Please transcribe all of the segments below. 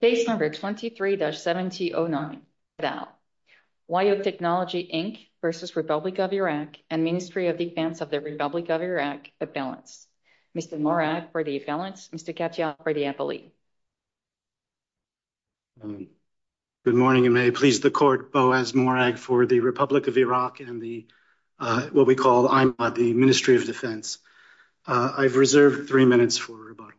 and Ministry of Defense of the Republic of Iraq, Mr. Morag for the balance, Mr. Katyal for the appellee. Good morning, and may it please the court, Boaz Morag for the Republic of Iraq and the, what we call the Ministry of Defense. I've reserved three minutes for rebuttal.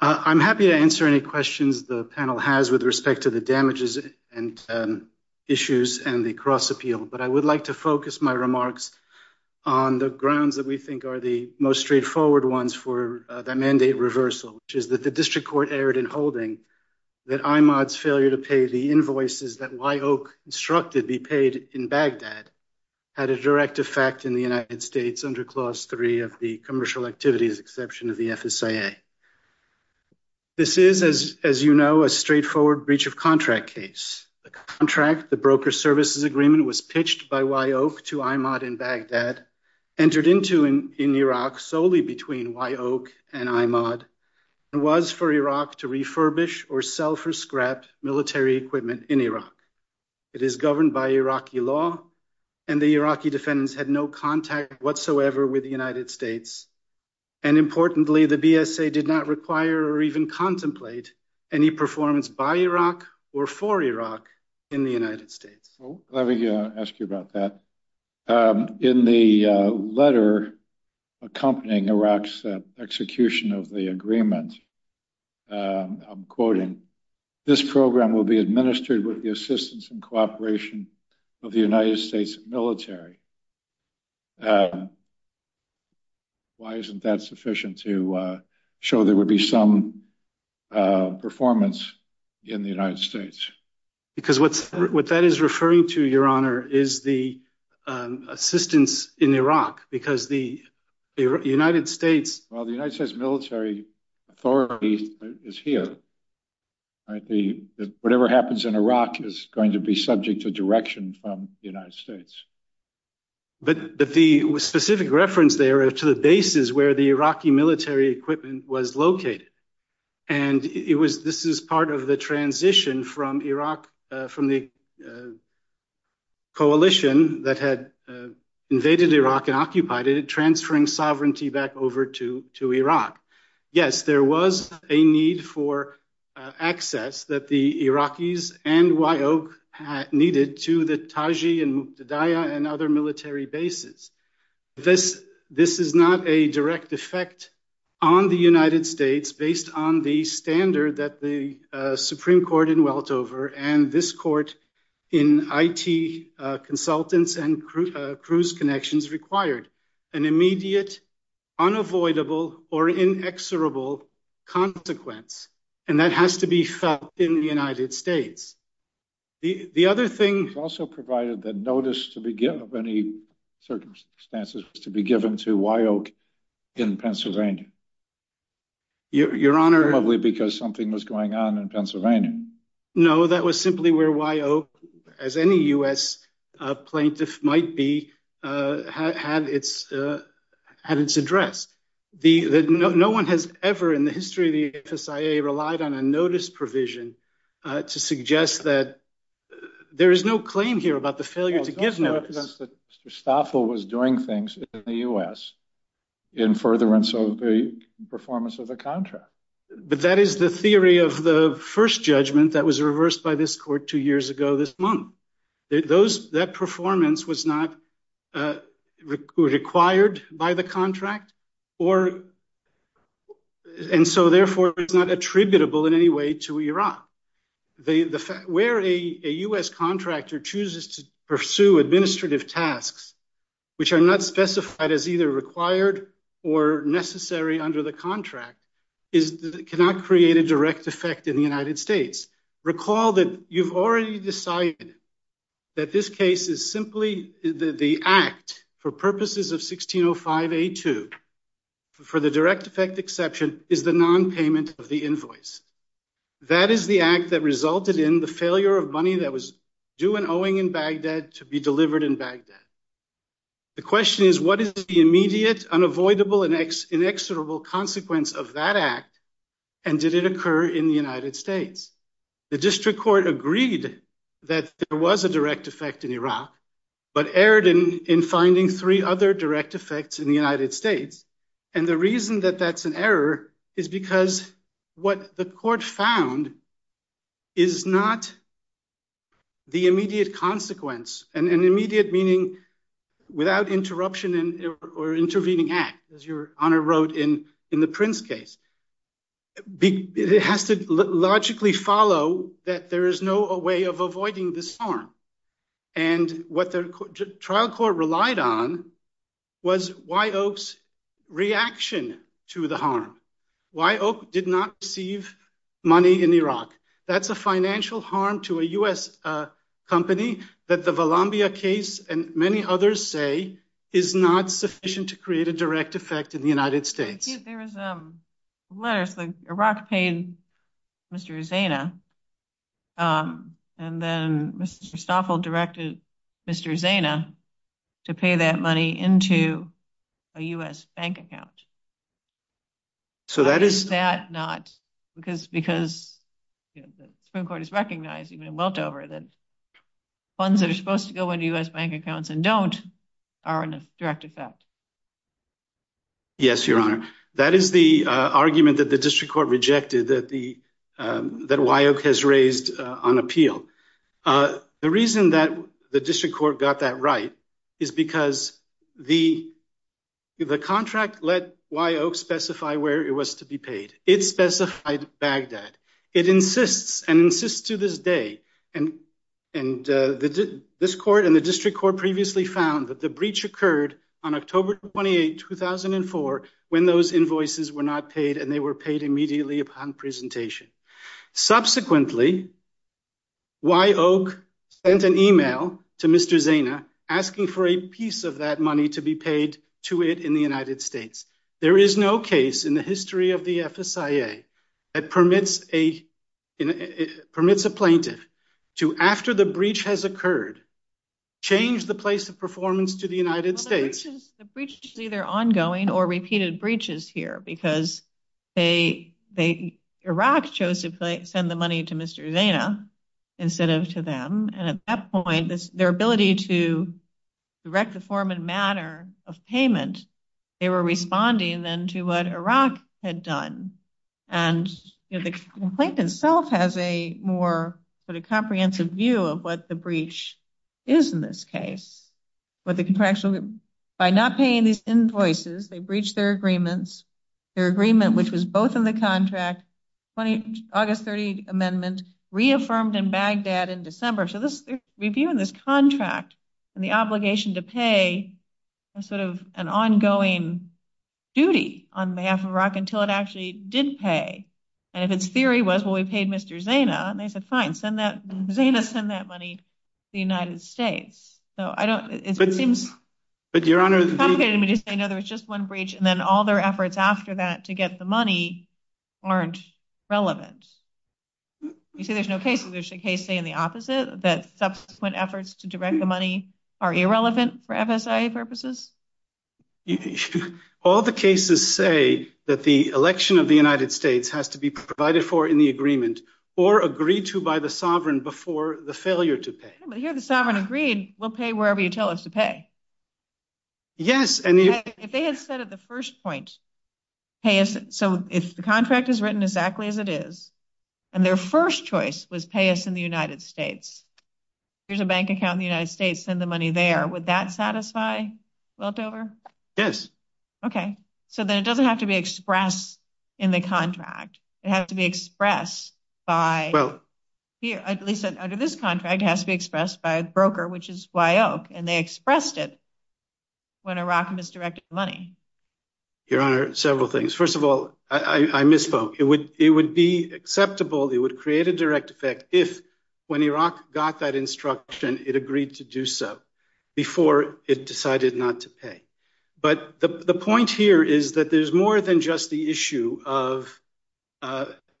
I'm happy to answer any questions that you may have. I'm happy to answer any questions the panel has with respect to the damages and issues and the cross-appeal. But I would like to focus my remarks on the grounds that we think are the most straightforward ones for the mandate reversal, which is that the district court erred in holding that IMOD's failure to pay the invoices that Wye Oak instructed be paid in Baghdad had a direct effect in the United States under Clause 3 of the Commercial Activities Exception of the FSIA. This is, as you know, a straightforward breach of contract case. The contract, the broker services agreement, was pitched by Wye Oak to IMOD in Baghdad, entered into in Iraq solely between Wye Oak and IMOD, and was for Iraq to refurbish or sell for scrapped military equipment in Iraq. It is governed by Iraqi law, and the Iraqi defendants had no contact whatsoever with the United States. And importantly, the BSA did not require or even contemplate any performance by Iraq or for Iraq in the United States. Let me ask you about that. In the letter accompanying Iraq's execution of the agreement, I'm quoting, this program will be administered with the assistance and cooperation of the United States military. Why isn't that sufficient to show there would be some performance in the United States? Because what that is referring to, Your Honor, is the assistance in Iraq, because the United States. Well, the United States military authority is here. Whatever happens in Iraq is going to be subject to direction from the United States. But the specific reference there to the bases where the Iraqi military equipment was located. And this is part of the transition from Iraq, from the coalition that had invaded Iraq and occupied it, transferring sovereignty back over to Iraq. Yes, there was a need for access that the Iraqis and Wye Oak needed to the Taji and Muqtadaa and other military bases. This this is not a direct effect on the United States based on the standard that the Supreme Court in Weltover and this court in I.T. consultants and cruise connections required an immediate, unavoidable or inexorable consequence. And that has to be in the United States. The other thing also provided that notice to begin of any circumstances was to be given to Wye Oak in Pennsylvania. Your Honor, probably because something was going on in Pennsylvania. No, that was simply where Wye Oak, as any U.S. plaintiff might be, had its had its address. No one has ever in the history of the F.S.I.A. relied on a notice provision to suggest that there is no claim here about the failure to give notice. Mr. Stoffel was doing things in the U.S. in furtherance of the performance of the contract. But that is the theory of the first judgment that was reversed by this court two years ago this month. Those that performance was not required by the contract or. And so therefore, it's not attributable in any way to Iraq. The fact where a U.S. contractor chooses to pursue administrative tasks, which are not specified as either required or necessary under the contract, is that it cannot create a direct effect in the United States. Recall that you've already decided that this case is simply the act for purposes of 1605A2. For the direct effect exception is the nonpayment of the invoice. That is the act that resulted in the failure of money that was due and owing in Baghdad to be delivered in Baghdad. The question is, what is the immediate, unavoidable and inexorable consequence of that act? And did it occur in the United States? The district court agreed that there was a direct effect in Iraq, but erred in in finding three other direct effects in the United States. And the reason that that's an error is because what the court found. Is not. The immediate consequence and an immediate meaning without interruption or intervening act, as your honor wrote in in the Prince case. It has to logically follow that there is no way of avoiding the storm. And what the trial court relied on was why Oaks reaction to the harm, why Oak did not receive money in Iraq. That's a financial harm to a U.S. company that the Valambia case and many others say is not sufficient to create a direct effect in the United States. There was letters that Iraq paid Mr. Zana and then Mr. Staffel directed Mr. Zana to pay that money into a U.S. bank account. So that is that not because because the Supreme Court is recognized even in Weltover that funds are supposed to go into U.S. bank accounts and don't are in a direct effect. Yes, your honor, that is the argument that the district court rejected that the that why Oak has raised on appeal. The reason that the district court got that right is because the the contract let why Oak specify where it was to be paid. It specified Baghdad. It insists and insists to this day. And and this court and the district court previously found that the breach occurred on October 28, 2004, when those invoices were not paid and they were paid immediately upon presentation. Subsequently. Why Oak sent an email to Mr. Zana asking for a piece of that money to be paid to it in the United States. There is no case in the history of the FSIA that permits a permits a plaintiff to after the breach has occurred, change the place of performance to the United States. The breach is either ongoing or repeated breaches here because they they Iraq chose to send the money to Mr. Zana instead of to them. And at that point, their ability to direct the form and manner of payment. They were responding then to what Iraq had done. And the complaint itself has a more sort of comprehensive view of what the breach is in this case. But the contractual by not paying these invoices, they breached their agreements. Their agreement, which was both in the contract 20 August 30 amendment reaffirmed in Baghdad in December. So this review in this contract and the obligation to pay a sort of an ongoing duty on behalf of Iraq until it actually did pay. And if its theory was, well, we paid Mr. Zana and they said, fine, send that Zana, send that money to the United States. So I don't it seems. But your honor, there was just one breach. And then all their efforts after that to get the money aren't relevant. You see, there's no case. There's a case in the opposite that subsequent efforts to direct the money are irrelevant for FSA purposes. All the cases say that the election of the United States has to be provided for in the agreement or agreed to by the sovereign before the failure to pay. But here the sovereign agreed we'll pay wherever you tell us to pay. Yes. And if they had said at the first point, hey, so if the contract is written exactly as it is and their first choice was pay us in the United States, here's a bank account in the United States and the money there, would that satisfy Weldover? Yes. OK, so then it doesn't have to be expressed in the contract. It has to be expressed by. Well, at least under this contract has to be expressed by a broker, which is why Oak and they expressed it. When Iraq misdirected money, your honor, several things. First of all, I misspoke. It would it would be acceptable. It would create a direct effect if when Iraq got that instruction, it agreed to do so before it decided not to pay. But the point here is that there's more than just the issue of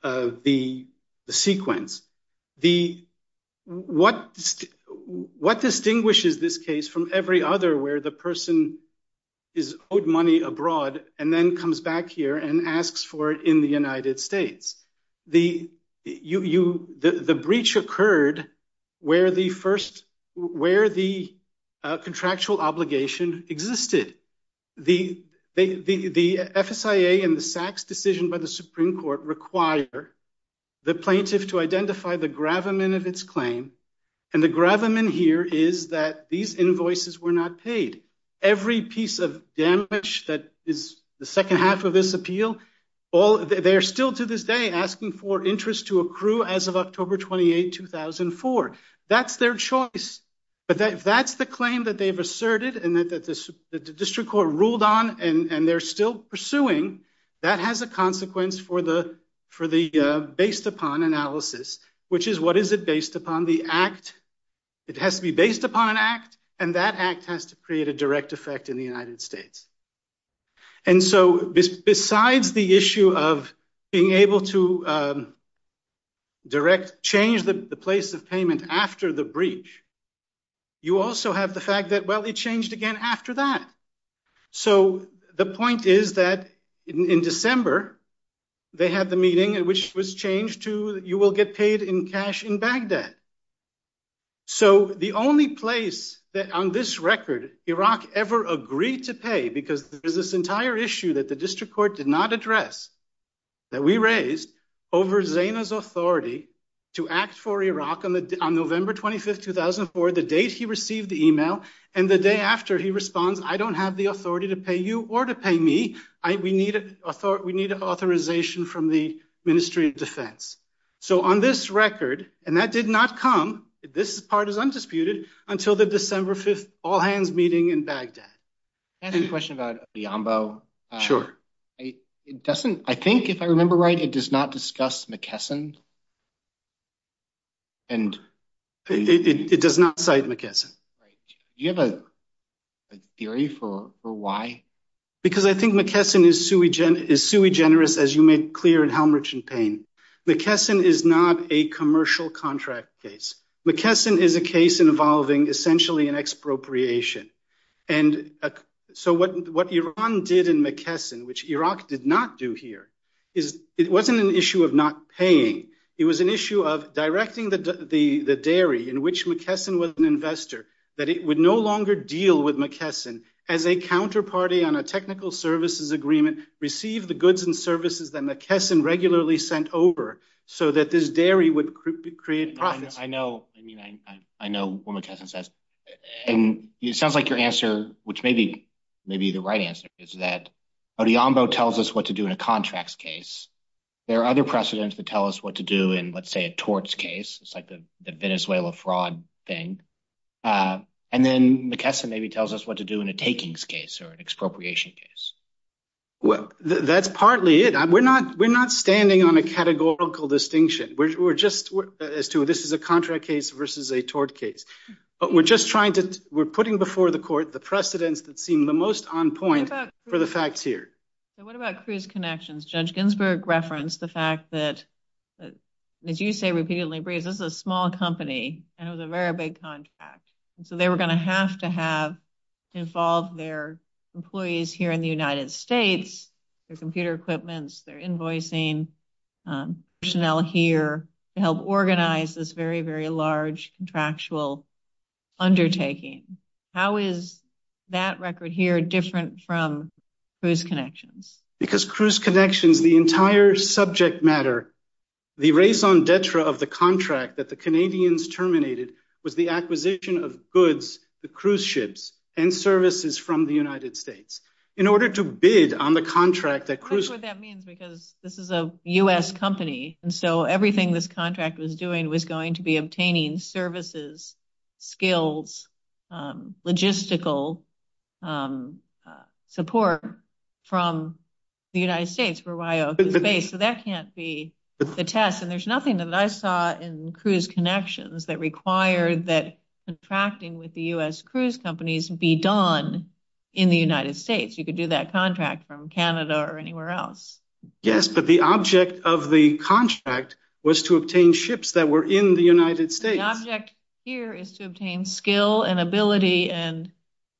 the sequence. The what what distinguishes this case from every other where the person is owed money abroad and then comes back here and asks for it in the United States? The you the breach occurred where the first where the contractual obligation existed. The the the FSA and the SACs decision by the Supreme Court require the plaintiff to identify the gravamen of its claim. And the gravamen here is that these invoices were not paid. Every piece of damage that is the second half of this appeal. All they are still to this day asking for interest to accrue as of October 28, 2004. That's their choice. But that's the claim that they've asserted and that the district court ruled on. And they're still pursuing. That has a consequence for the for the based upon analysis, which is what is it based upon the act? It has to be based upon an act and that act has to create a direct effect in the United States. And so besides the issue of being able to. Direct change the place of payment after the breach. You also have the fact that, well, it changed again after that. So the point is that in December they had the meeting, which was changed to you will get paid in cash in Baghdad. So the only place that on this record Iraq ever agreed to pay, because there's this entire issue that the district court did not address. That we raised over Zaina's authority to act for Iraq on November 25th, 2004, the date he received the email. And the day after he responds, I don't have the authority to pay you or to pay me. We need a thought. We need authorization from the Ministry of Defense. So on this record, and that did not come. This part is undisputed until the December 5th all hands meeting in Baghdad. Any question about the Ambo? Sure. It doesn't. I think if I remember right, it does not discuss McKesson. And it does not cite McKesson. You have a theory for why? Because I think McKesson is sui gen is sui generous, as you made clear in Helmrich and Payne. McKesson is not a commercial contract case. McKesson is a case involving essentially an expropriation. And so what Iran did in McKesson, which Iraq did not do here, is it wasn't an issue of not paying. It was an issue of directing the dairy in which McKesson was an investor. That it would no longer deal with McKesson as a counterparty on a technical services agreement. Receive the goods and services that McKesson regularly sent over so that this dairy would create profits. I know. I mean, I know what McKesson says. And it sounds like your answer, which may be maybe the right answer, is that the Ambo tells us what to do in a contracts case. There are other precedents that tell us what to do in, let's say, a torts case. It's like the Venezuela fraud thing. And then McKesson maybe tells us what to do in a takings case or an expropriation case. Well, that's partly it. We're not we're not standing on a categorical distinction. We're just as to this is a contract case versus a tort case. But we're just trying to we're putting before the court the precedents that seem the most on point for the facts here. So what about cruise connections? Judge Ginsburg referenced the fact that, as you say repeatedly, this is a small company and it was a very big contract. And so they were going to have to have involved their employees here in the United States. Their computer equipments, their invoicing personnel here to help organize this very, very large contractual undertaking. How is that record here different from cruise connections? Because cruise connections, the entire subject matter, the raison d'etre of the contract that the Canadians terminated was the acquisition of goods, the cruise ships and services from the United States. In order to bid on the contract that cruise. That means because this is a U.S. company. And so everything this contract was doing was going to be obtaining services, skills, logistical support from the United States. So that can't be the test. And there's nothing that I saw in cruise connections that require that contracting with the U.S. cruise companies be done in the United States. You could do that contract from Canada or anywhere else. Yes, but the object of the contract was to obtain ships that were in the United States. The object here is to obtain skill and ability and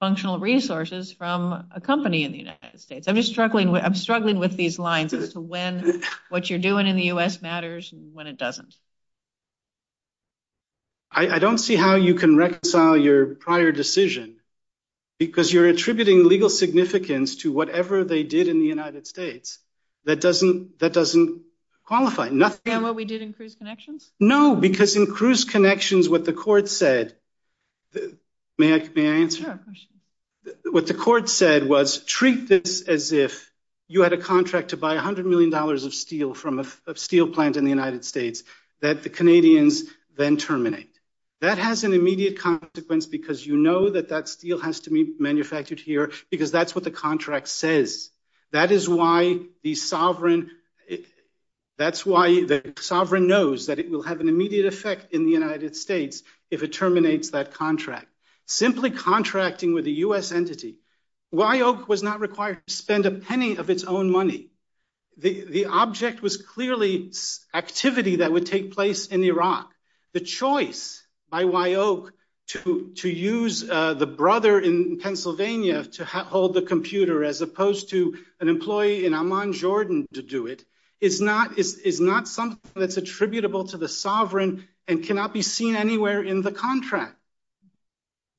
functional resources from a company in the United States. I'm just struggling. I'm struggling with these lines as to when what you're doing in the U.S. matters and when it doesn't. I don't see how you can reconcile your prior decision, because you're attributing legal significance to whatever they did in the United States. That doesn't that doesn't qualify. Nothing. And what we did in cruise connections. No, because in cruise connections, what the court said. May I answer? What the court said was treat this as if you had a contract to buy one hundred million dollars of steel from a steel plant in the United States. That the Canadians then terminate. That has an immediate consequence, because you know that that steel has to be manufactured here because that's what the contract says. That is why the sovereign that's why the sovereign knows that it will have an immediate effect in the United States. If it terminates that contract, simply contracting with the U.S. entity. Why Oak was not required to spend a penny of its own money. The object was clearly activity that would take place in Iraq. The choice by why Oak to to use the brother in Pennsylvania to hold the computer, as opposed to an employee in Amman, Jordan, to do it. It's not it's not something that's attributable to the sovereign and cannot be seen anywhere in the contract.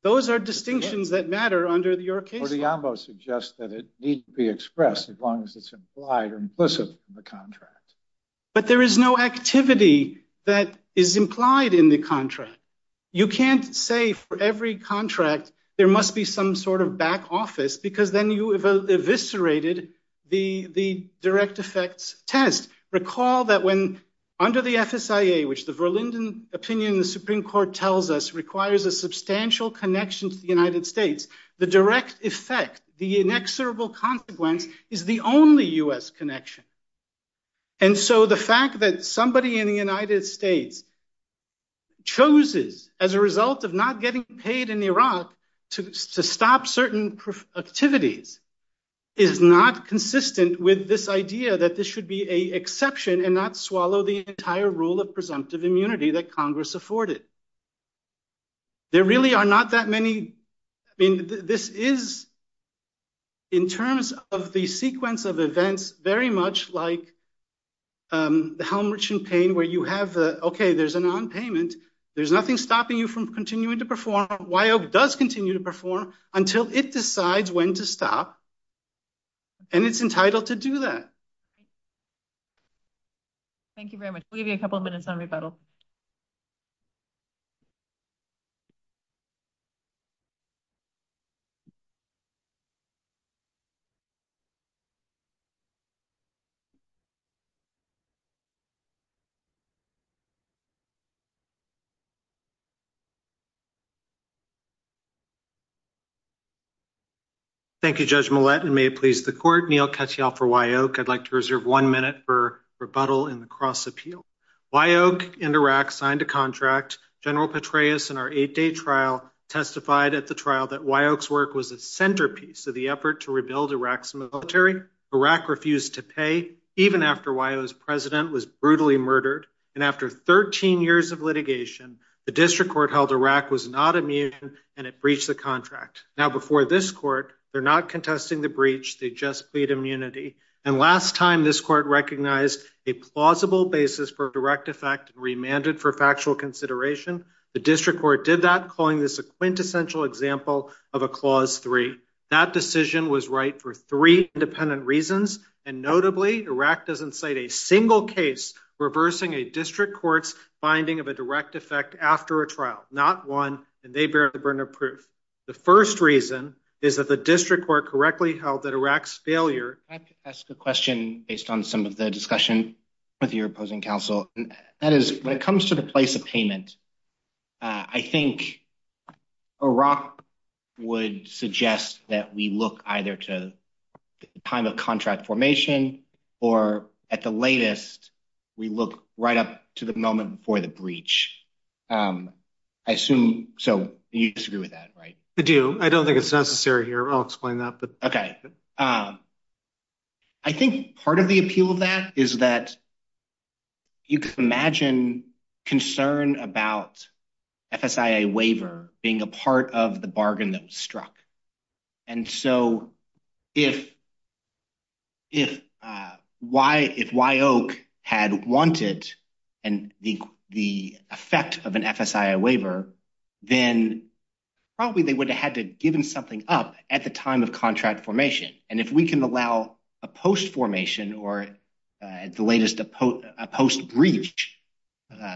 Those are distinctions that matter under your case. Yambo suggests that it needs to be expressed as long as it's implied or implicit in the contract. But there is no activity that is implied in the contract. You can't say for every contract there must be some sort of back office because then you have eviscerated the the direct effects test. Recall that when under the FSA, which the Verlinden opinion, the Supreme Court tells us requires a substantial connection to the United States. The direct effect, the inexorable consequence is the only U.S. connection. And so the fact that somebody in the United States. Choses as a result of not getting paid in Iraq to stop certain activities. Is not consistent with this idea that this should be a exception and not swallow the entire rule of presumptive immunity that Congress afforded. There really are not that many. This is. In terms of the sequence of events, very much like. How much in pain where you have. OK, there's an on payment. There's nothing stopping you from continuing to perform. Why does continue to perform until it decides when to stop? And it's entitled to do that. Thank you very much. We'll give you a couple of minutes on rebuttal. Thank you very much. Correct. Iraq refused to pay even after was president was brutally murdered and after 13 years of litigation, the district court held Iraq was not immune. And it breached the contract. Now, before this court, they're not contesting the breach. They just plead immunity. And last time, this court recognized a plausible basis for direct effect remanded for factual consideration. The district court did that, calling this a quintessential example of a clause three. That decision was right for three independent reasons. And notably, Iraq doesn't cite a single case reversing a district court's finding of a direct effect after a trial. Not one. And they bear the burden of proof. The first reason is that the district court correctly held that Iraq's failure. Ask a question based on some of the discussion with your opposing counsel. That is when it comes to the place of payment. I think Iraq would suggest that we look either to the time of contract formation or at the latest. We look right up to the moment for the breach. I assume. So you disagree with that, right? I do. I don't think it's necessary here. I'll explain that. But OK. I think part of the appeal of that is that. You can imagine concern about FSA waiver being a part of the bargain that was struck. And so if. If why, if why Oak had wanted and the effect of an FSA waiver, then probably they would have had to given something up at the time of contract formation. And if we can allow a post formation or the latest post breach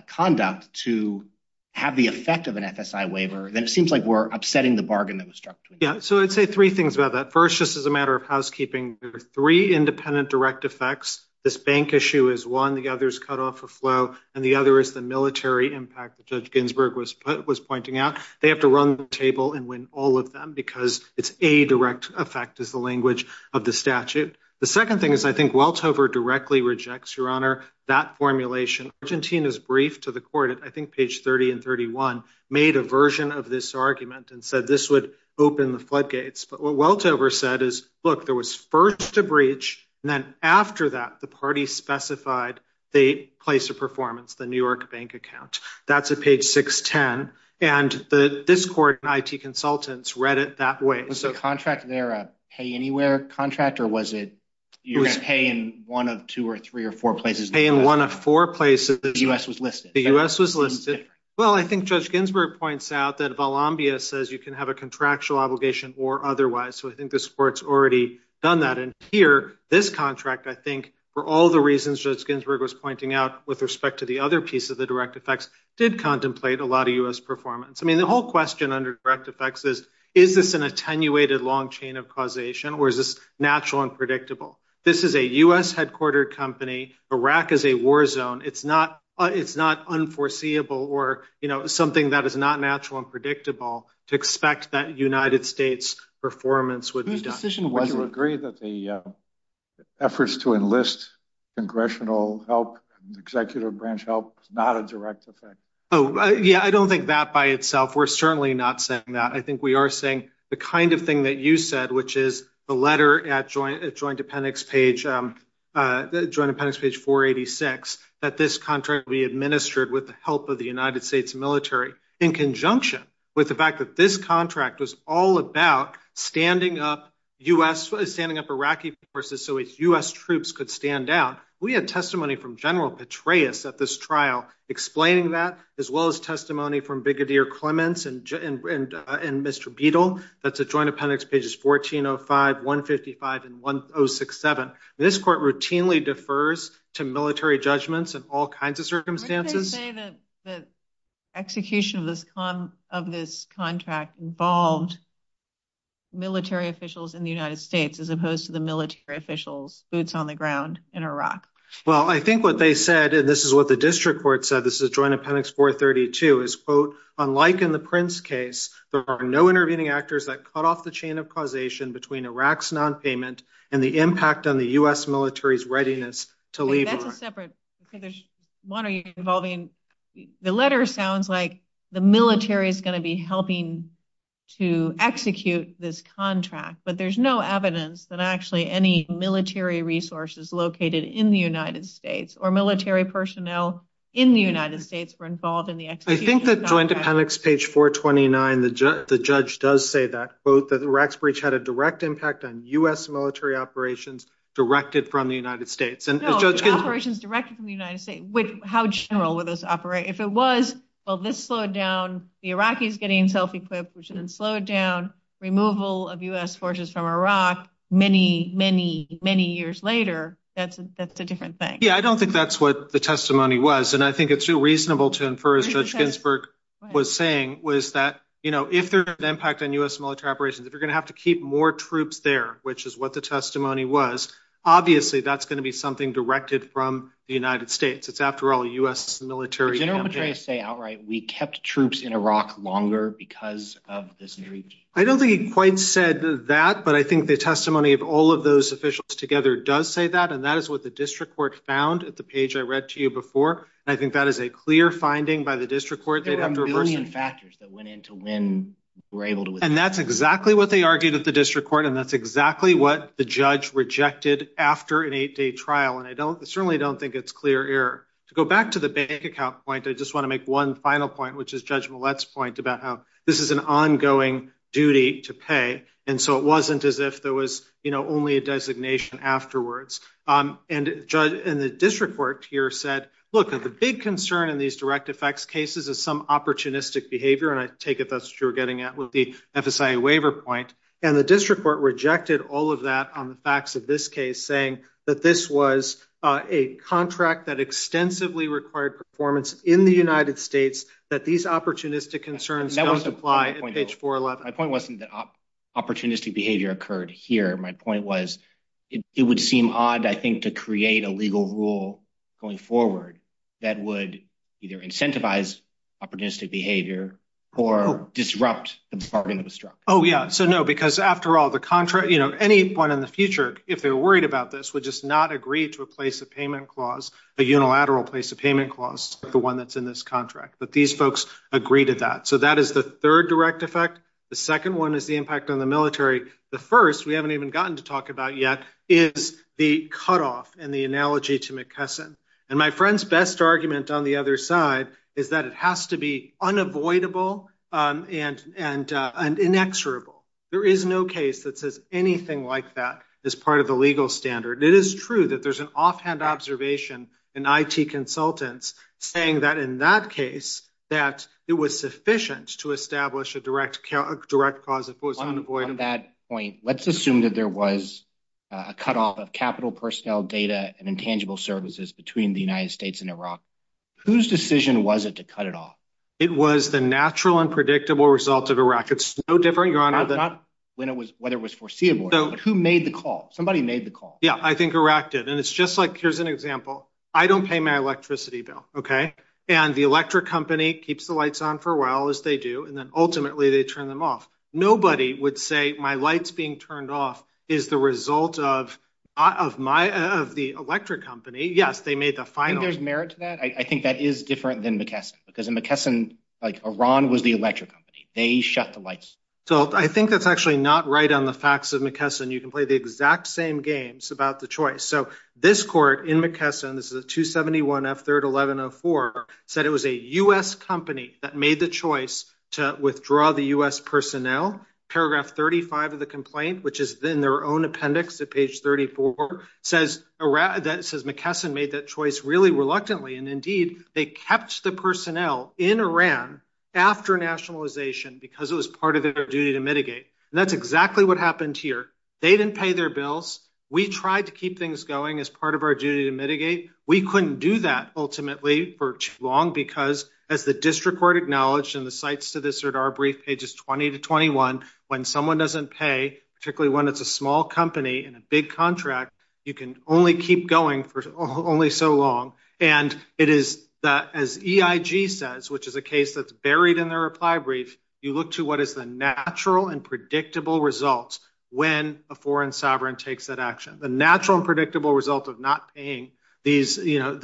conduct to have the effect of an FSA waiver, then it seems like we're upsetting the bargain that was struck. Yeah. So I'd say three things about that. First, just as a matter of housekeeping, there are three independent direct effects. This bank issue is one. The other is cut off a flow. And the other is the military impact. Judge Ginsburg was was pointing out they have to run the table and win all of them because it's a direct effect is the language of the statute. The second thing is, I think Welts over directly rejects your honor. That formulation, Argentina's brief to the court, I think, page 30 and 31 made a version of this argument and said this would open the floodgates. But what Welts over said is, look, there was first a breach. And then after that, the party specified the place of performance, the New York bank account. That's a page 610. And this court and I.T. consultants read it that way. So contract there pay anywhere contract or was it you're going to pay in one of two or three or four places? Pay in one of four places. The US was listed. The US was listed. Well, I think Judge Ginsburg points out that Valambia says you can have a contractual obligation or otherwise. So I think this court's already done that. And here, this contract, I think, for all the reasons that Ginsburg was pointing out with respect to the other piece of the direct effects, did contemplate a lot of U.S. performance. I mean, the whole question under direct effects is, is this an attenuated long chain of causation or is this natural and predictable? This is a U.S. headquartered company. Iraq is a war zone. It's not it's not unforeseeable or, you know, something that is not natural and predictable to expect that United States performance would be decision. Would you agree that the efforts to enlist congressional help executive branch help is not a direct effect? Oh, yeah. I don't think that by itself. We're certainly not saying that. I think we are saying the kind of thing that you said, which is the letter at joint joint appendix page, joint appendix page for 86, that this contract be administered with the help of the United States military in conjunction with the fact that this contract was all about standing up U.S. What is standing up Iraqi forces so U.S. troops could stand out? We had testimony from General Petraeus at this trial explaining that, as well as testimony from Bigodeer Clements and Mr. Beadle. That's a joint appendix pages 1405, 155 and 1067. This court routinely defers to military judgments and all kinds of circumstances. The execution of this of this contract involved military officials in the United States, as opposed to the military officials boots on the ground in Iraq. Well, I think what they said, and this is what the district court said, this is a joint appendix for 32 is, quote, unlike in the Prince case, there are no intervening actors that cut off the chain of causation between Iraq's nonpayment and the impact on the U.S. military's readiness to leave. That's a separate one. Are you involving the letter? Sounds like the military is going to be helping to execute this contract. But there's no evidence that actually any military resources located in the United States or military personnel in the United States were involved in the. I think that joint appendix page 429, the judge does say that both the Iraq's breach had a direct impact on U.S. military operations directed from the United States and operations directed from the United States. How general would this operate if it was? Well, this slowed down the Iraqis getting self-equipped and slowed down removal of U.S. forces from Iraq many, many, many years later. That's that's a different thing. Yeah, I don't think that's what the testimony was. And I think it's reasonable to infer, as Judge Ginsburg was saying, was that, you know, if there's an impact on U.S. military operations, if you're going to have to keep more troops there, which is what the testimony was, obviously, that's going to be something directed from the United States. It's after all, U.S. military. General Petraeus say outright we kept troops in Iraq longer because of this. I don't think he quite said that. But I think the testimony of all of those officials together does say that. And that is what the district court found at the page I read to you before. I think that is a clear finding by the district court. They'd have to reverse factors that went into when we're able to. And that's exactly what they argued at the district court. And that's exactly what the judge rejected after an eight day trial. And I don't I certainly don't think it's clear error to go back to the bank account point. I just want to make one final point, which is Judge Millett's point about how this is an ongoing duty to pay. And so it wasn't as if there was only a designation afterwards. And the district court here said, look, the big concern in these direct effects cases is some opportunistic behavior. And I take it that's true. Getting at the FSA waiver point and the district court rejected all of that on the facts of this case, saying that this was a contract that extensively required performance in the United States, that these opportunistic concerns don't apply. My point wasn't that opportunistic behavior occurred here. My point was it would seem odd, I think, to create a legal rule going forward that would either incentivize opportunistic behavior or disrupt the bargain that was struck. Oh, yeah. So, no, because after all, the contract, you know, any one in the future, if they're worried about this would just not agree to a place of payment clause, a unilateral place of payment clause, the one that's in this contract. But these folks agree to that. So that is the third direct effect. The second one is the impact on the military. The first we haven't even gotten to talk about yet is the cutoff and the analogy to McKesson. And my friend's best argument on the other side is that it has to be unavoidable and inexorable. There is no case that says anything like that is part of the legal standard. It is true that there's an offhand observation in I.T. consultants saying that in that case, that it was sufficient to establish a direct direct cause that was unavoidable. On that point, let's assume that there was a cutoff of capital personnel data and intangible services between the United States and Iraq. Whose decision was it to cut it off? It was the natural and predictable result of Iraq. It's no different, Your Honor. Not when it was whether it was foreseeable, but who made the call? Somebody made the call. Yeah, I think Iraq did. And it's just like here's an example. I don't pay my electricity bill, OK? And the electric company keeps the lights on for a while as they do. And then ultimately they turn them off. Nobody would say my lights being turned off is the result of of my of the electric company. Yes, they made the final. There's merit to that. I think that is different than McKesson. Because in McKesson, like Iran was the electric company. They shut the lights. So I think that's actually not right on the facts of McKesson. You can play the exact same games about the choice. So this court in McKesson, this is a 271 F3rd 1104, said it was a U.S. company that made the choice to withdraw the U.S. personnel. Paragraph 35 of the complaint, which is in their own appendix at page 34, says that McKesson made that choice really reluctantly. And indeed, they kept the personnel in Iran after nationalization because it was part of their duty to mitigate. And that's exactly what happened here. They didn't pay their bills. We tried to keep things going as part of our duty to mitigate. We couldn't do that ultimately for too long, because as the district court acknowledged in the cites to this or our brief pages 20 to 21, when someone doesn't pay, particularly when it's a small company and a big contract, you can only keep going for only so long. And it is as EIG says, which is a case that's buried in their reply brief. You look to what is the natural and predictable results when a foreign sovereign takes that action. The natural and predictable result of not paying these, you know,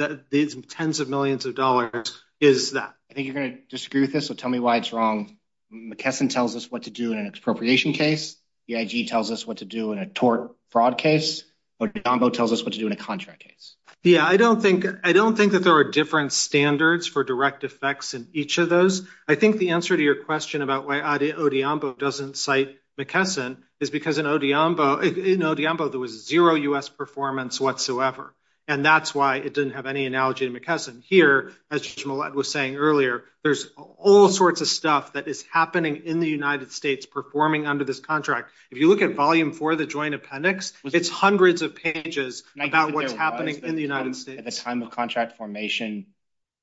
tens of millions of dollars is that. I think you're going to disagree with this. So tell me why it's wrong. McKesson tells us what to do in an expropriation case. EIG tells us what to do in a tort fraud case. Modambo tells us what to do in a contract case. Yeah, I don't think I don't think that there are different standards for direct effects in each of those. I think the answer to your question about why Odeonbo doesn't cite McKesson is because in Odeonbo, in Odeonbo there was zero U.S. performance whatsoever. And that's why it didn't have any analogy to McKesson. Here, as Jamal was saying earlier, there's all sorts of stuff that is happening in the United States performing under this contract. If you look at volume four of the joint appendix, it's hundreds of pages about what's happening in the United States. At the time of contract formation,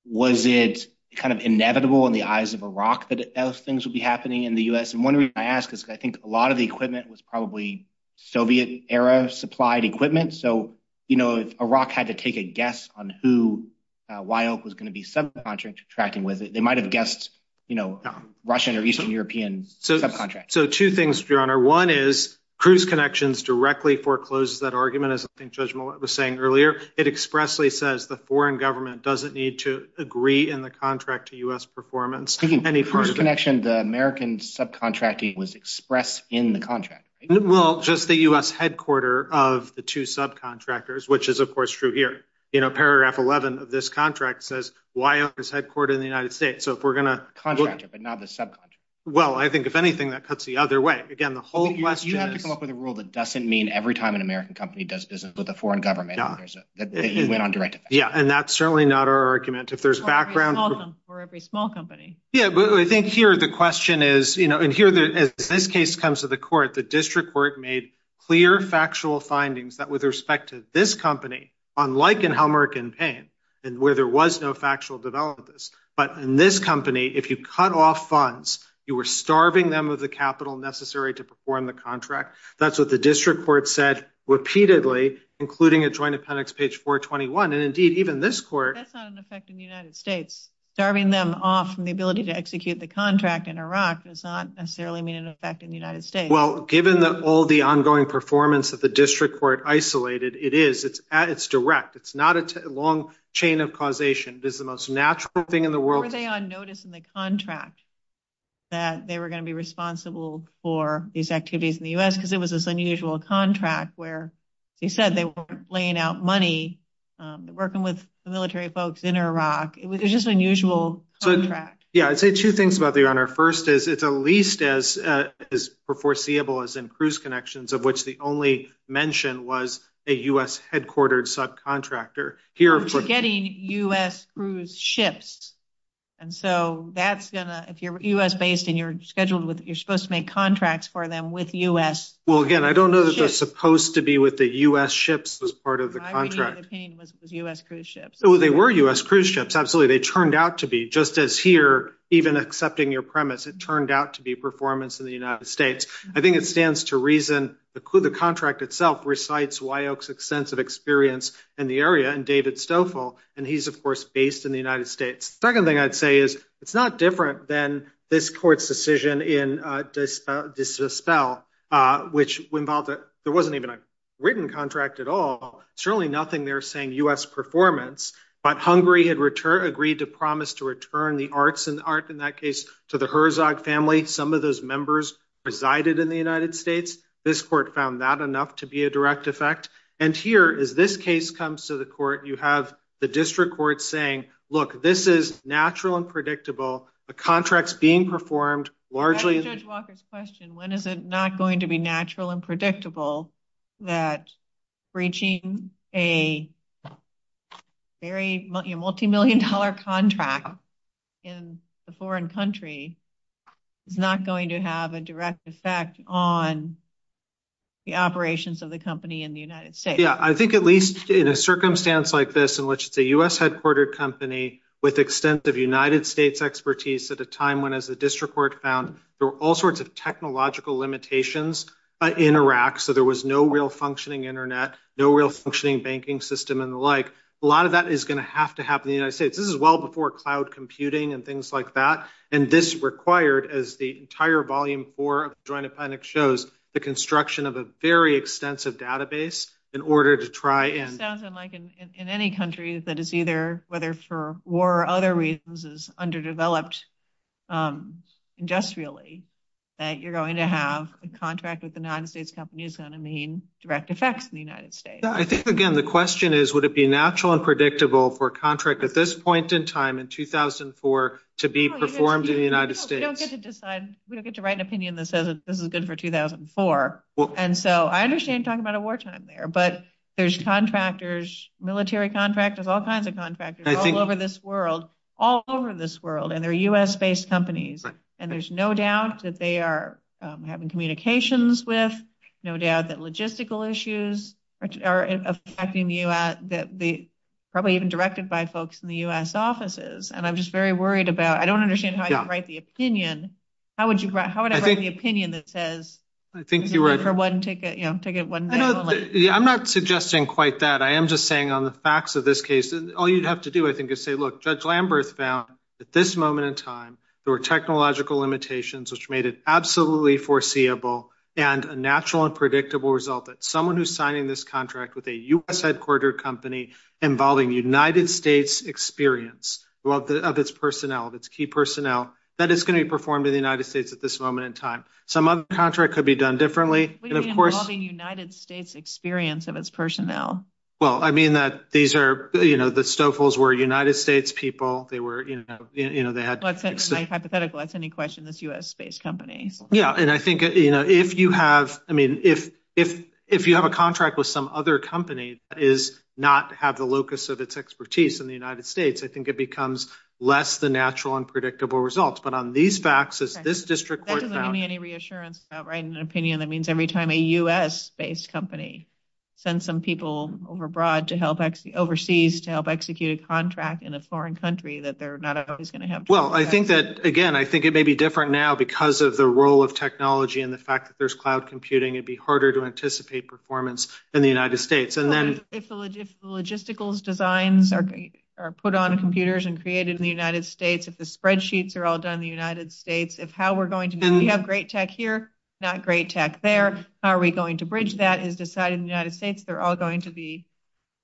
was it kind of inevitable in the eyes of Iraq that those things would be happening in the U.S.? And one reason I ask is I think a lot of the equipment was probably Soviet era supplied equipment. So, you know, if Iraq had to take a guess on who was going to be subcontracting with it, they might have guessed, you know, Russian or Eastern European subcontracts. So two things, Your Honor. One is Cruise Connections directly forecloses that argument, as I think Judge Mollet was saying earlier. It expressly says the foreign government doesn't need to agree in the contract to U.S. performance. Cruise Connections, the American subcontracting was expressed in the contract. Well, just the U.S. headquarter of the two subcontractors, which is, of course, true here. You know, paragraph 11 of this contract says why is headquartered in the United States? Contractor, but not the subcontractor. Well, I think if anything, that cuts the other way. Again, the whole question is. You have to come up with a rule that doesn't mean every time an American company does business with a foreign government that you went on direct effect. Yeah, and that's certainly not our argument. If there's background. For every small company. Yeah, but I think here the question is, you know, and here as this case comes to the court, the district court made clear factual findings that with respect to this company, unlike in how American pain and where there was no factual developments. But in this company, if you cut off funds, you were starving them of the capital necessary to perform the contract. That's what the district court said repeatedly, including a joint appendix, page 421. And indeed, even this court. That's not an effect in the United States. Starving them off from the ability to execute the contract in Iraq does not necessarily mean an effect in the United States. Well, given that all the ongoing performance of the district court isolated, it is it's it's direct. It's not a long chain of causation. It is the most natural thing in the world. They are noticing the contract. That they were going to be responsible for these activities in the US because it was this unusual contract where they said they were laying out money, working with the military folks in Iraq. It was just unusual. So, yeah, I'd say two things about the honor. First is it's at least as is foreseeable as in cruise connections, of which the only mention was a U.S. headquartered subcontractor here for getting U.S. cruise ships. And so that's going to if you're U.S. based and you're scheduled with, you're supposed to make contracts for them with U.S. Well, again, I don't know that they're supposed to be with the U.S. ships as part of the contract was U.S. cruise ships. cruise ships. Absolutely. They turned out to be just as here, even accepting your premise, it turned out to be performance in the United States. I think it stands to reason the contract itself recites Wyoch's extensive experience in the area and David Stoffel. And he's, of course, based in the United States. Second thing I'd say is it's not different than this court's decision in Dispel, which involved there wasn't even a written contract at all. Certainly nothing there saying U.S. performance. But Hungary had agreed to promise to return the arts and art in that case to the Herzog family. Some of those members resided in the United States. This court found that enough to be a direct effect. And here is this case comes to the court. You have the district court saying, look, this is natural and predictable. The contract's being performed largely. When is it not going to be natural and predictable that reaching a very multimillion dollar contract in a foreign country is not going to have a direct effect on the operations of the company in the United States? Yeah, I think at least in a circumstance like this in which it's a U.S. headquartered company with extensive United States expertise at a time when, as the district court found, there were all sorts of technological limitations in Iraq. So there was no real functioning Internet, no real functioning banking system and the like. A lot of that is going to have to happen in the United States. This is well before cloud computing and things like that. And this required, as the entire volume four of the Joint Appendix shows, the construction of a very extensive database in order to try and. It sounds like in any country that is either, whether for war or other reasons, is underdeveloped industrially that you're going to have a contract with the United States company is going to mean direct effects in the United States. I think, again, the question is, would it be natural and predictable for a contract at this point in time in 2004 to be performed in the United States? We don't get to decide. We don't get to write an opinion that says this is good for 2004. And so I understand talking about a wartime there, but there's contractors, military contractors, all kinds of contractors all over this world, all over this world. And they're U.S. based companies. And there's no doubt that they are having communications with no doubt that logistical issues are affecting you, that the probably even directed by folks in the U.S. offices. And I'm just very worried about I don't understand how you write the opinion. How would you write the opinion that says I think you were for one ticket to get one. I'm not suggesting quite that. I am just saying on the facts of this case, all you'd have to do, I think, is say, look, Judge Lambert found at this moment in time, there were technological limitations, which made it absolutely foreseeable. And a natural and predictable result that someone who's signing this contract with a U.S. headquarter company involving United States experience of its personnel, its key personnel, that is going to be performed in the United States at this moment in time. Some other contract could be done differently. And, of course, the United States experience of its personnel. Well, I mean, that these are, you know, the Stouffels were United States people. They were, you know, you know, they had hypothetical. That's any question this U.S. based companies. Yeah. And I think, you know, if you have I mean, if if if you have a contract with some other company is not have the locus of its expertise in the United States, I think it becomes less than natural and predictable results. But on these facts, as this district doesn't have any reassurance, an opinion that means every time a U.S. based company send some people overbroad to help overseas to help execute a contract in a foreign country that they're not always going to have. Well, I think that, again, I think it may be different now because of the role of technology and the fact that there's cloud computing, it'd be harder to anticipate performance in the United States. And then if the logistical designs are put on computers and created in the United States, if the spreadsheets are all done in the United States, if how we're going to have great tech here, not great tech there. Are we going to bridge that is decided in the United States? They're all going to be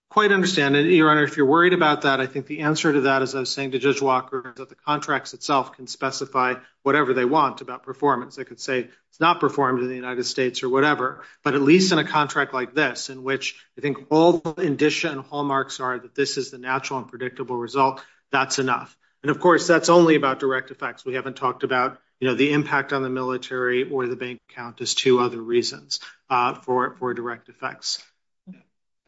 quite understanding. Your Honor, if you're worried about that, I think the answer to that is I was saying to Judge Walker that the contracts itself can specify whatever they want about performance. I could say it's not performed in the United States or whatever, but at least in a contract like this in which I think all the addition hallmarks are that this is the natural and predictable result. That's enough. And of course, that's only about direct effects. We haven't talked about the impact on the military or the bank account is two other reasons for it for direct effects.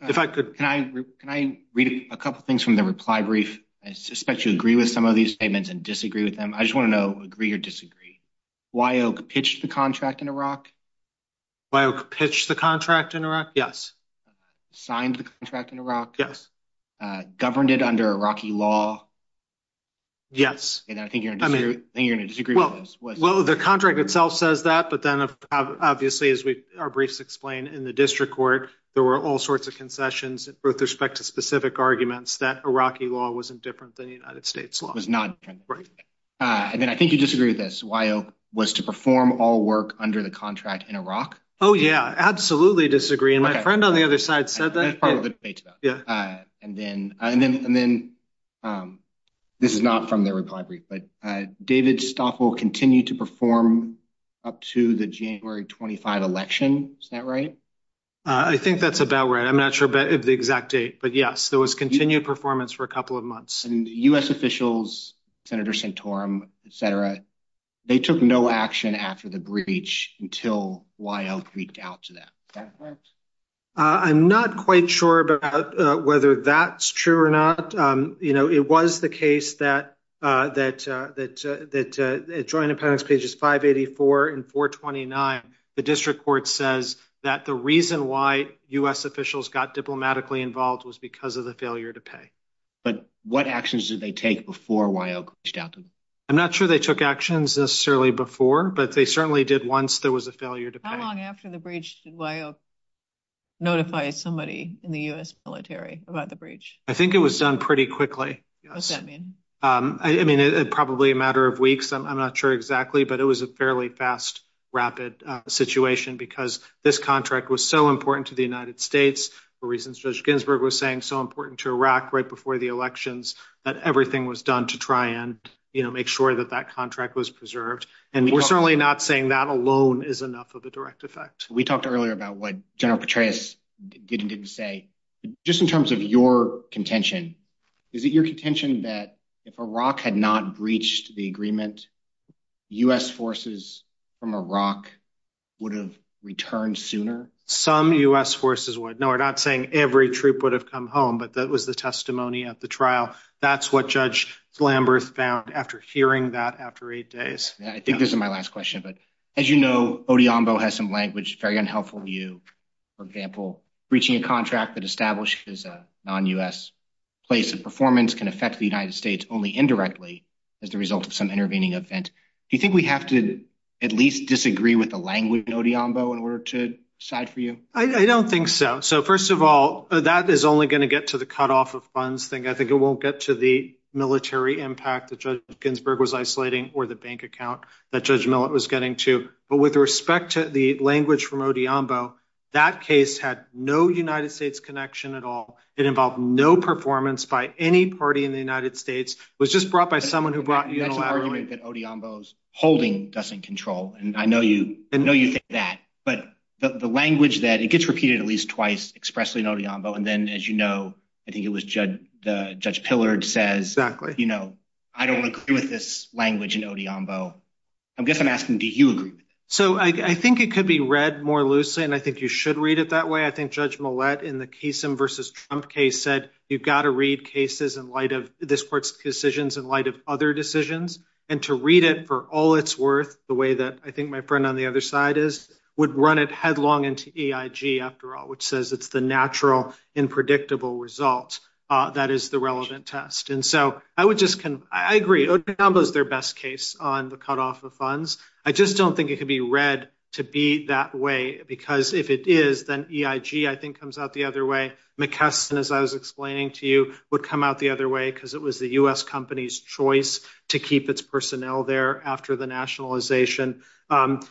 If I could, can I can I read a couple of things from the reply brief? I suspect you agree with some of these statements and disagree with them. I just want to know agree or disagree. Why pitch the contract in Iraq? Why pitch the contract in Iraq? Yes. Signed the contract in Iraq. Yes. Governed it under Iraqi law. Yes, I think you're going to disagree. Well, the contract itself says that, but then obviously, as we our briefs explain in the district court, there were all sorts of concessions with respect to specific arguments that Iraqi law wasn't different than the United States law was not. And then I think you disagree with this while was to perform all work under the contract in Iraq. Oh, yeah, absolutely disagree. And my friend on the other side said that part of it. Yeah. And then and then and then this is not from the reply brief, but David Stoffel continue to perform up to the January twenty five election. Is that right? I think that's about right. I'm not sure about the exact date, but yes, there was continued performance for a couple of months and U.S. officials, Senator Santorum, Sarah. They took no action after the breach until we reached out to them. I'm not quite sure about whether that's true or not. You know, it was the case that that that that the Joint Appellate's pages five eighty four and four twenty nine. The district court says that the reason why U.S. officials got diplomatically involved was because of the failure to pay. But what actions did they take before we reached out to them? I'm not sure they took actions necessarily before, but they certainly did. Once there was a failure to pay after the breach. Notify somebody in the U.S. military about the breach. I think it was done pretty quickly. I mean, probably a matter of weeks. I'm not sure exactly, but it was a fairly fast, rapid situation because this contract was so important to the United States. For reasons Judge Ginsburg was saying so important to Iraq right before the elections that everything was done to try and make sure that that contract was preserved. And we're certainly not saying that alone is enough of a direct effect. We talked earlier about what General Petraeus did and didn't say. Just in terms of your contention, is it your contention that if Iraq had not breached the agreement, U.S. forces from Iraq would have returned sooner? Some U.S. forces would. No, we're not saying every troop would have come home, but that was the testimony at the trial. That's what Judge Lamberth found after hearing that after eight days. I think this is my last question, but as you know, Odeonbo has some language, very unhelpful view. For example, breaching a contract that establishes a non-U.S. place of performance can affect the United States only indirectly as the result of some intervening event. Do you think we have to at least disagree with the language in Odeonbo in order to side for you? I don't think so. So first of all, that is only going to get to the cutoff of funds thing. I think it won't get to the military impact that Judge Ginsburg was isolating or the bank account that Judge Millett was getting to. But with respect to the language from Odeonbo, that case had no United States connection at all. It involved no performance by any party in the United States. It was just brought by someone who brought you in. That's an argument that Odeonbo's holding doesn't control. And I know you think that, but the language that it gets repeated at least twice expressly in Odeonbo. And then, as you know, I think it was Judge Pillard says, you know, I don't agree with this language in Odeonbo. I guess I'm asking, do you agree? So I think it could be read more loosely, and I think you should read it that way. I think Judge Millett in the Kasem versus Trump case said, you've got to read cases in light of this court's decisions in light of other decisions. And to read it for all it's worth, the way that I think my friend on the other side is, would run it headlong into EIG after all, which says it's the natural, unpredictable result that is the relevant test. And so I would just, I agree, Odeonbo is their best case on the cutoff of funds. I just don't think it could be read to be that way, because if it is, then EIG, I think, comes out the other way. McKesson, as I was explaining to you, would come out the other way, because it was the U.S. company's choice to keep its personnel there after the nationalization. And,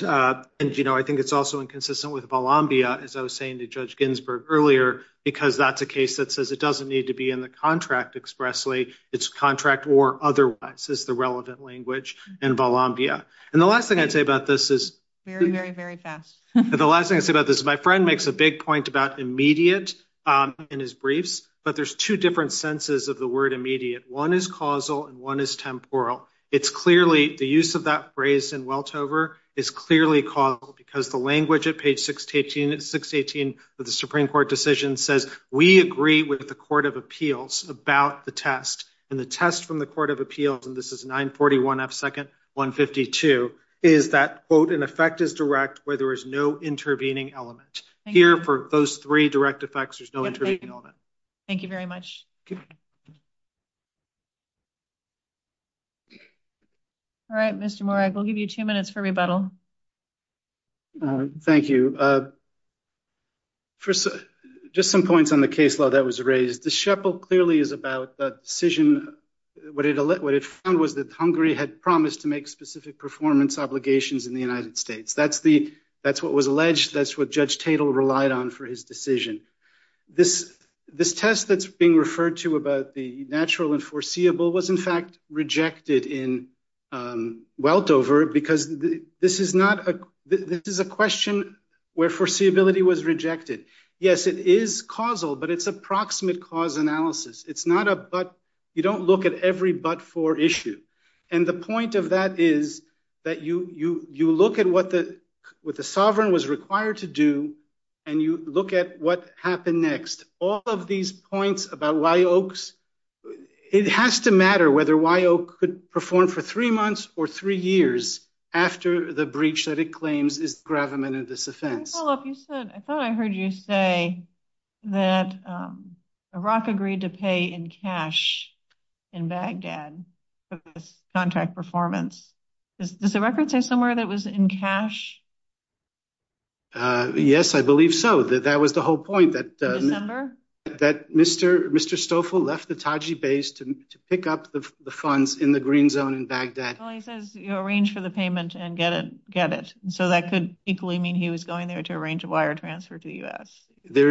you know, I think it's also inconsistent with Volambia, as I was saying to Judge Ginsburg earlier, because that's a case that says it doesn't need to be in the contract expressly. It's contract or otherwise is the relevant language in Volambia. And the last thing I'd say about this is... Very, very, very fast. The last thing I'd say about this, my friend makes a big point about immediate in his briefs, but there's two different senses of the word immediate. One is causal and one is temporal. It's clearly, the use of that phrase in Weltover is clearly causal, because the language at page 618 of the Supreme Court decision says, we agree with the Court of Appeals about the test. And the test from the Court of Appeals, and this is 941 F. Second 152, is that, quote, an effect is direct where there is no intervening element. Here, for those three direct effects, there's no intervening element. Thank you very much. All right, Mr. Moorag, we'll give you two minutes for rebuttal. Thank you. First, just some points on the case law that was raised. The Shepell clearly is about the decision... What it found was that Hungary had promised to make specific performance obligations in the United States. That's what was alleged. That's what Judge Tatel relied on for his decision. This test that's being referred to about the natural and foreseeable was in fact rejected in Weltover, because this is a question where foreseeability was rejected. Yes, it is causal, but it's a proximate cause analysis. It's not a but. You don't look at every but for issue. And the point of that is that you look at what the sovereign was required to do, and you look at what happened next. All of these points about why Oakes... It has to matter whether why Oakes could perform for three months or three years after the breach that it claims is the gravamen of this offense. Can I follow up? I thought I heard you say that Iraq agreed to pay in cash in Baghdad for this contract performance. Does the record say somewhere that it was in cash? Yes, I believe so. That was the whole point. In December? That Mr. Stoffel left the Taji base to pick up the funds in the green zone in Baghdad. Well, he says you arrange for the payment and get it. So that could equally mean he was going there to arrange a wire transfer to the U.S. There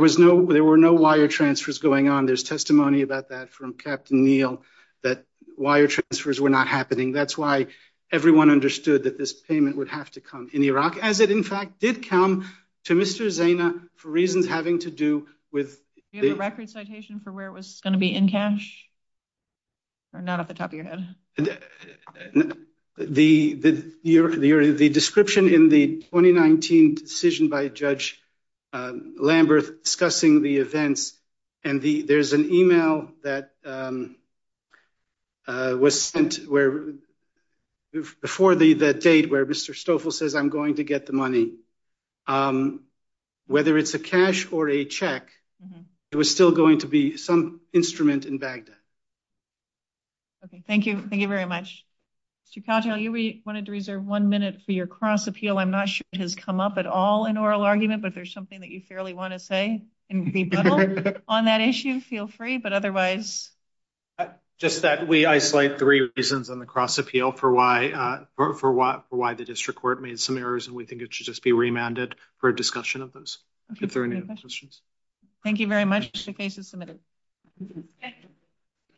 were no wire transfers going on. There's testimony about that from Captain Neal that wire transfers were not happening. That's why everyone understood that this payment would have to come in Iraq, as it in fact did come to Mr. Zayna for reasons having to do with... Do you have a record citation for where it was going to be in cash? Or not off the top of your head? The description in the 2019 decision by Judge Lambert discussing the events, and there's an email that was sent before the date where Mr. Stoffel says, I'm going to get the money. Whether it's a cash or a check, it was still going to be some instrument in Baghdad. Okay. Thank you. Thank you very much. Mr. Caldwell, you wanted to reserve one minute for your cross appeal. I'm not sure it has come up at all in oral argument, but if there's something that you fairly want to say on that issue, feel free. But otherwise... Just that we isolate three reasons on the cross appeal for why the district court made some errors, and we think it should just be remanded for discussion of those. If there are any other questions. Thank you very much. The case is submitted. Thank you.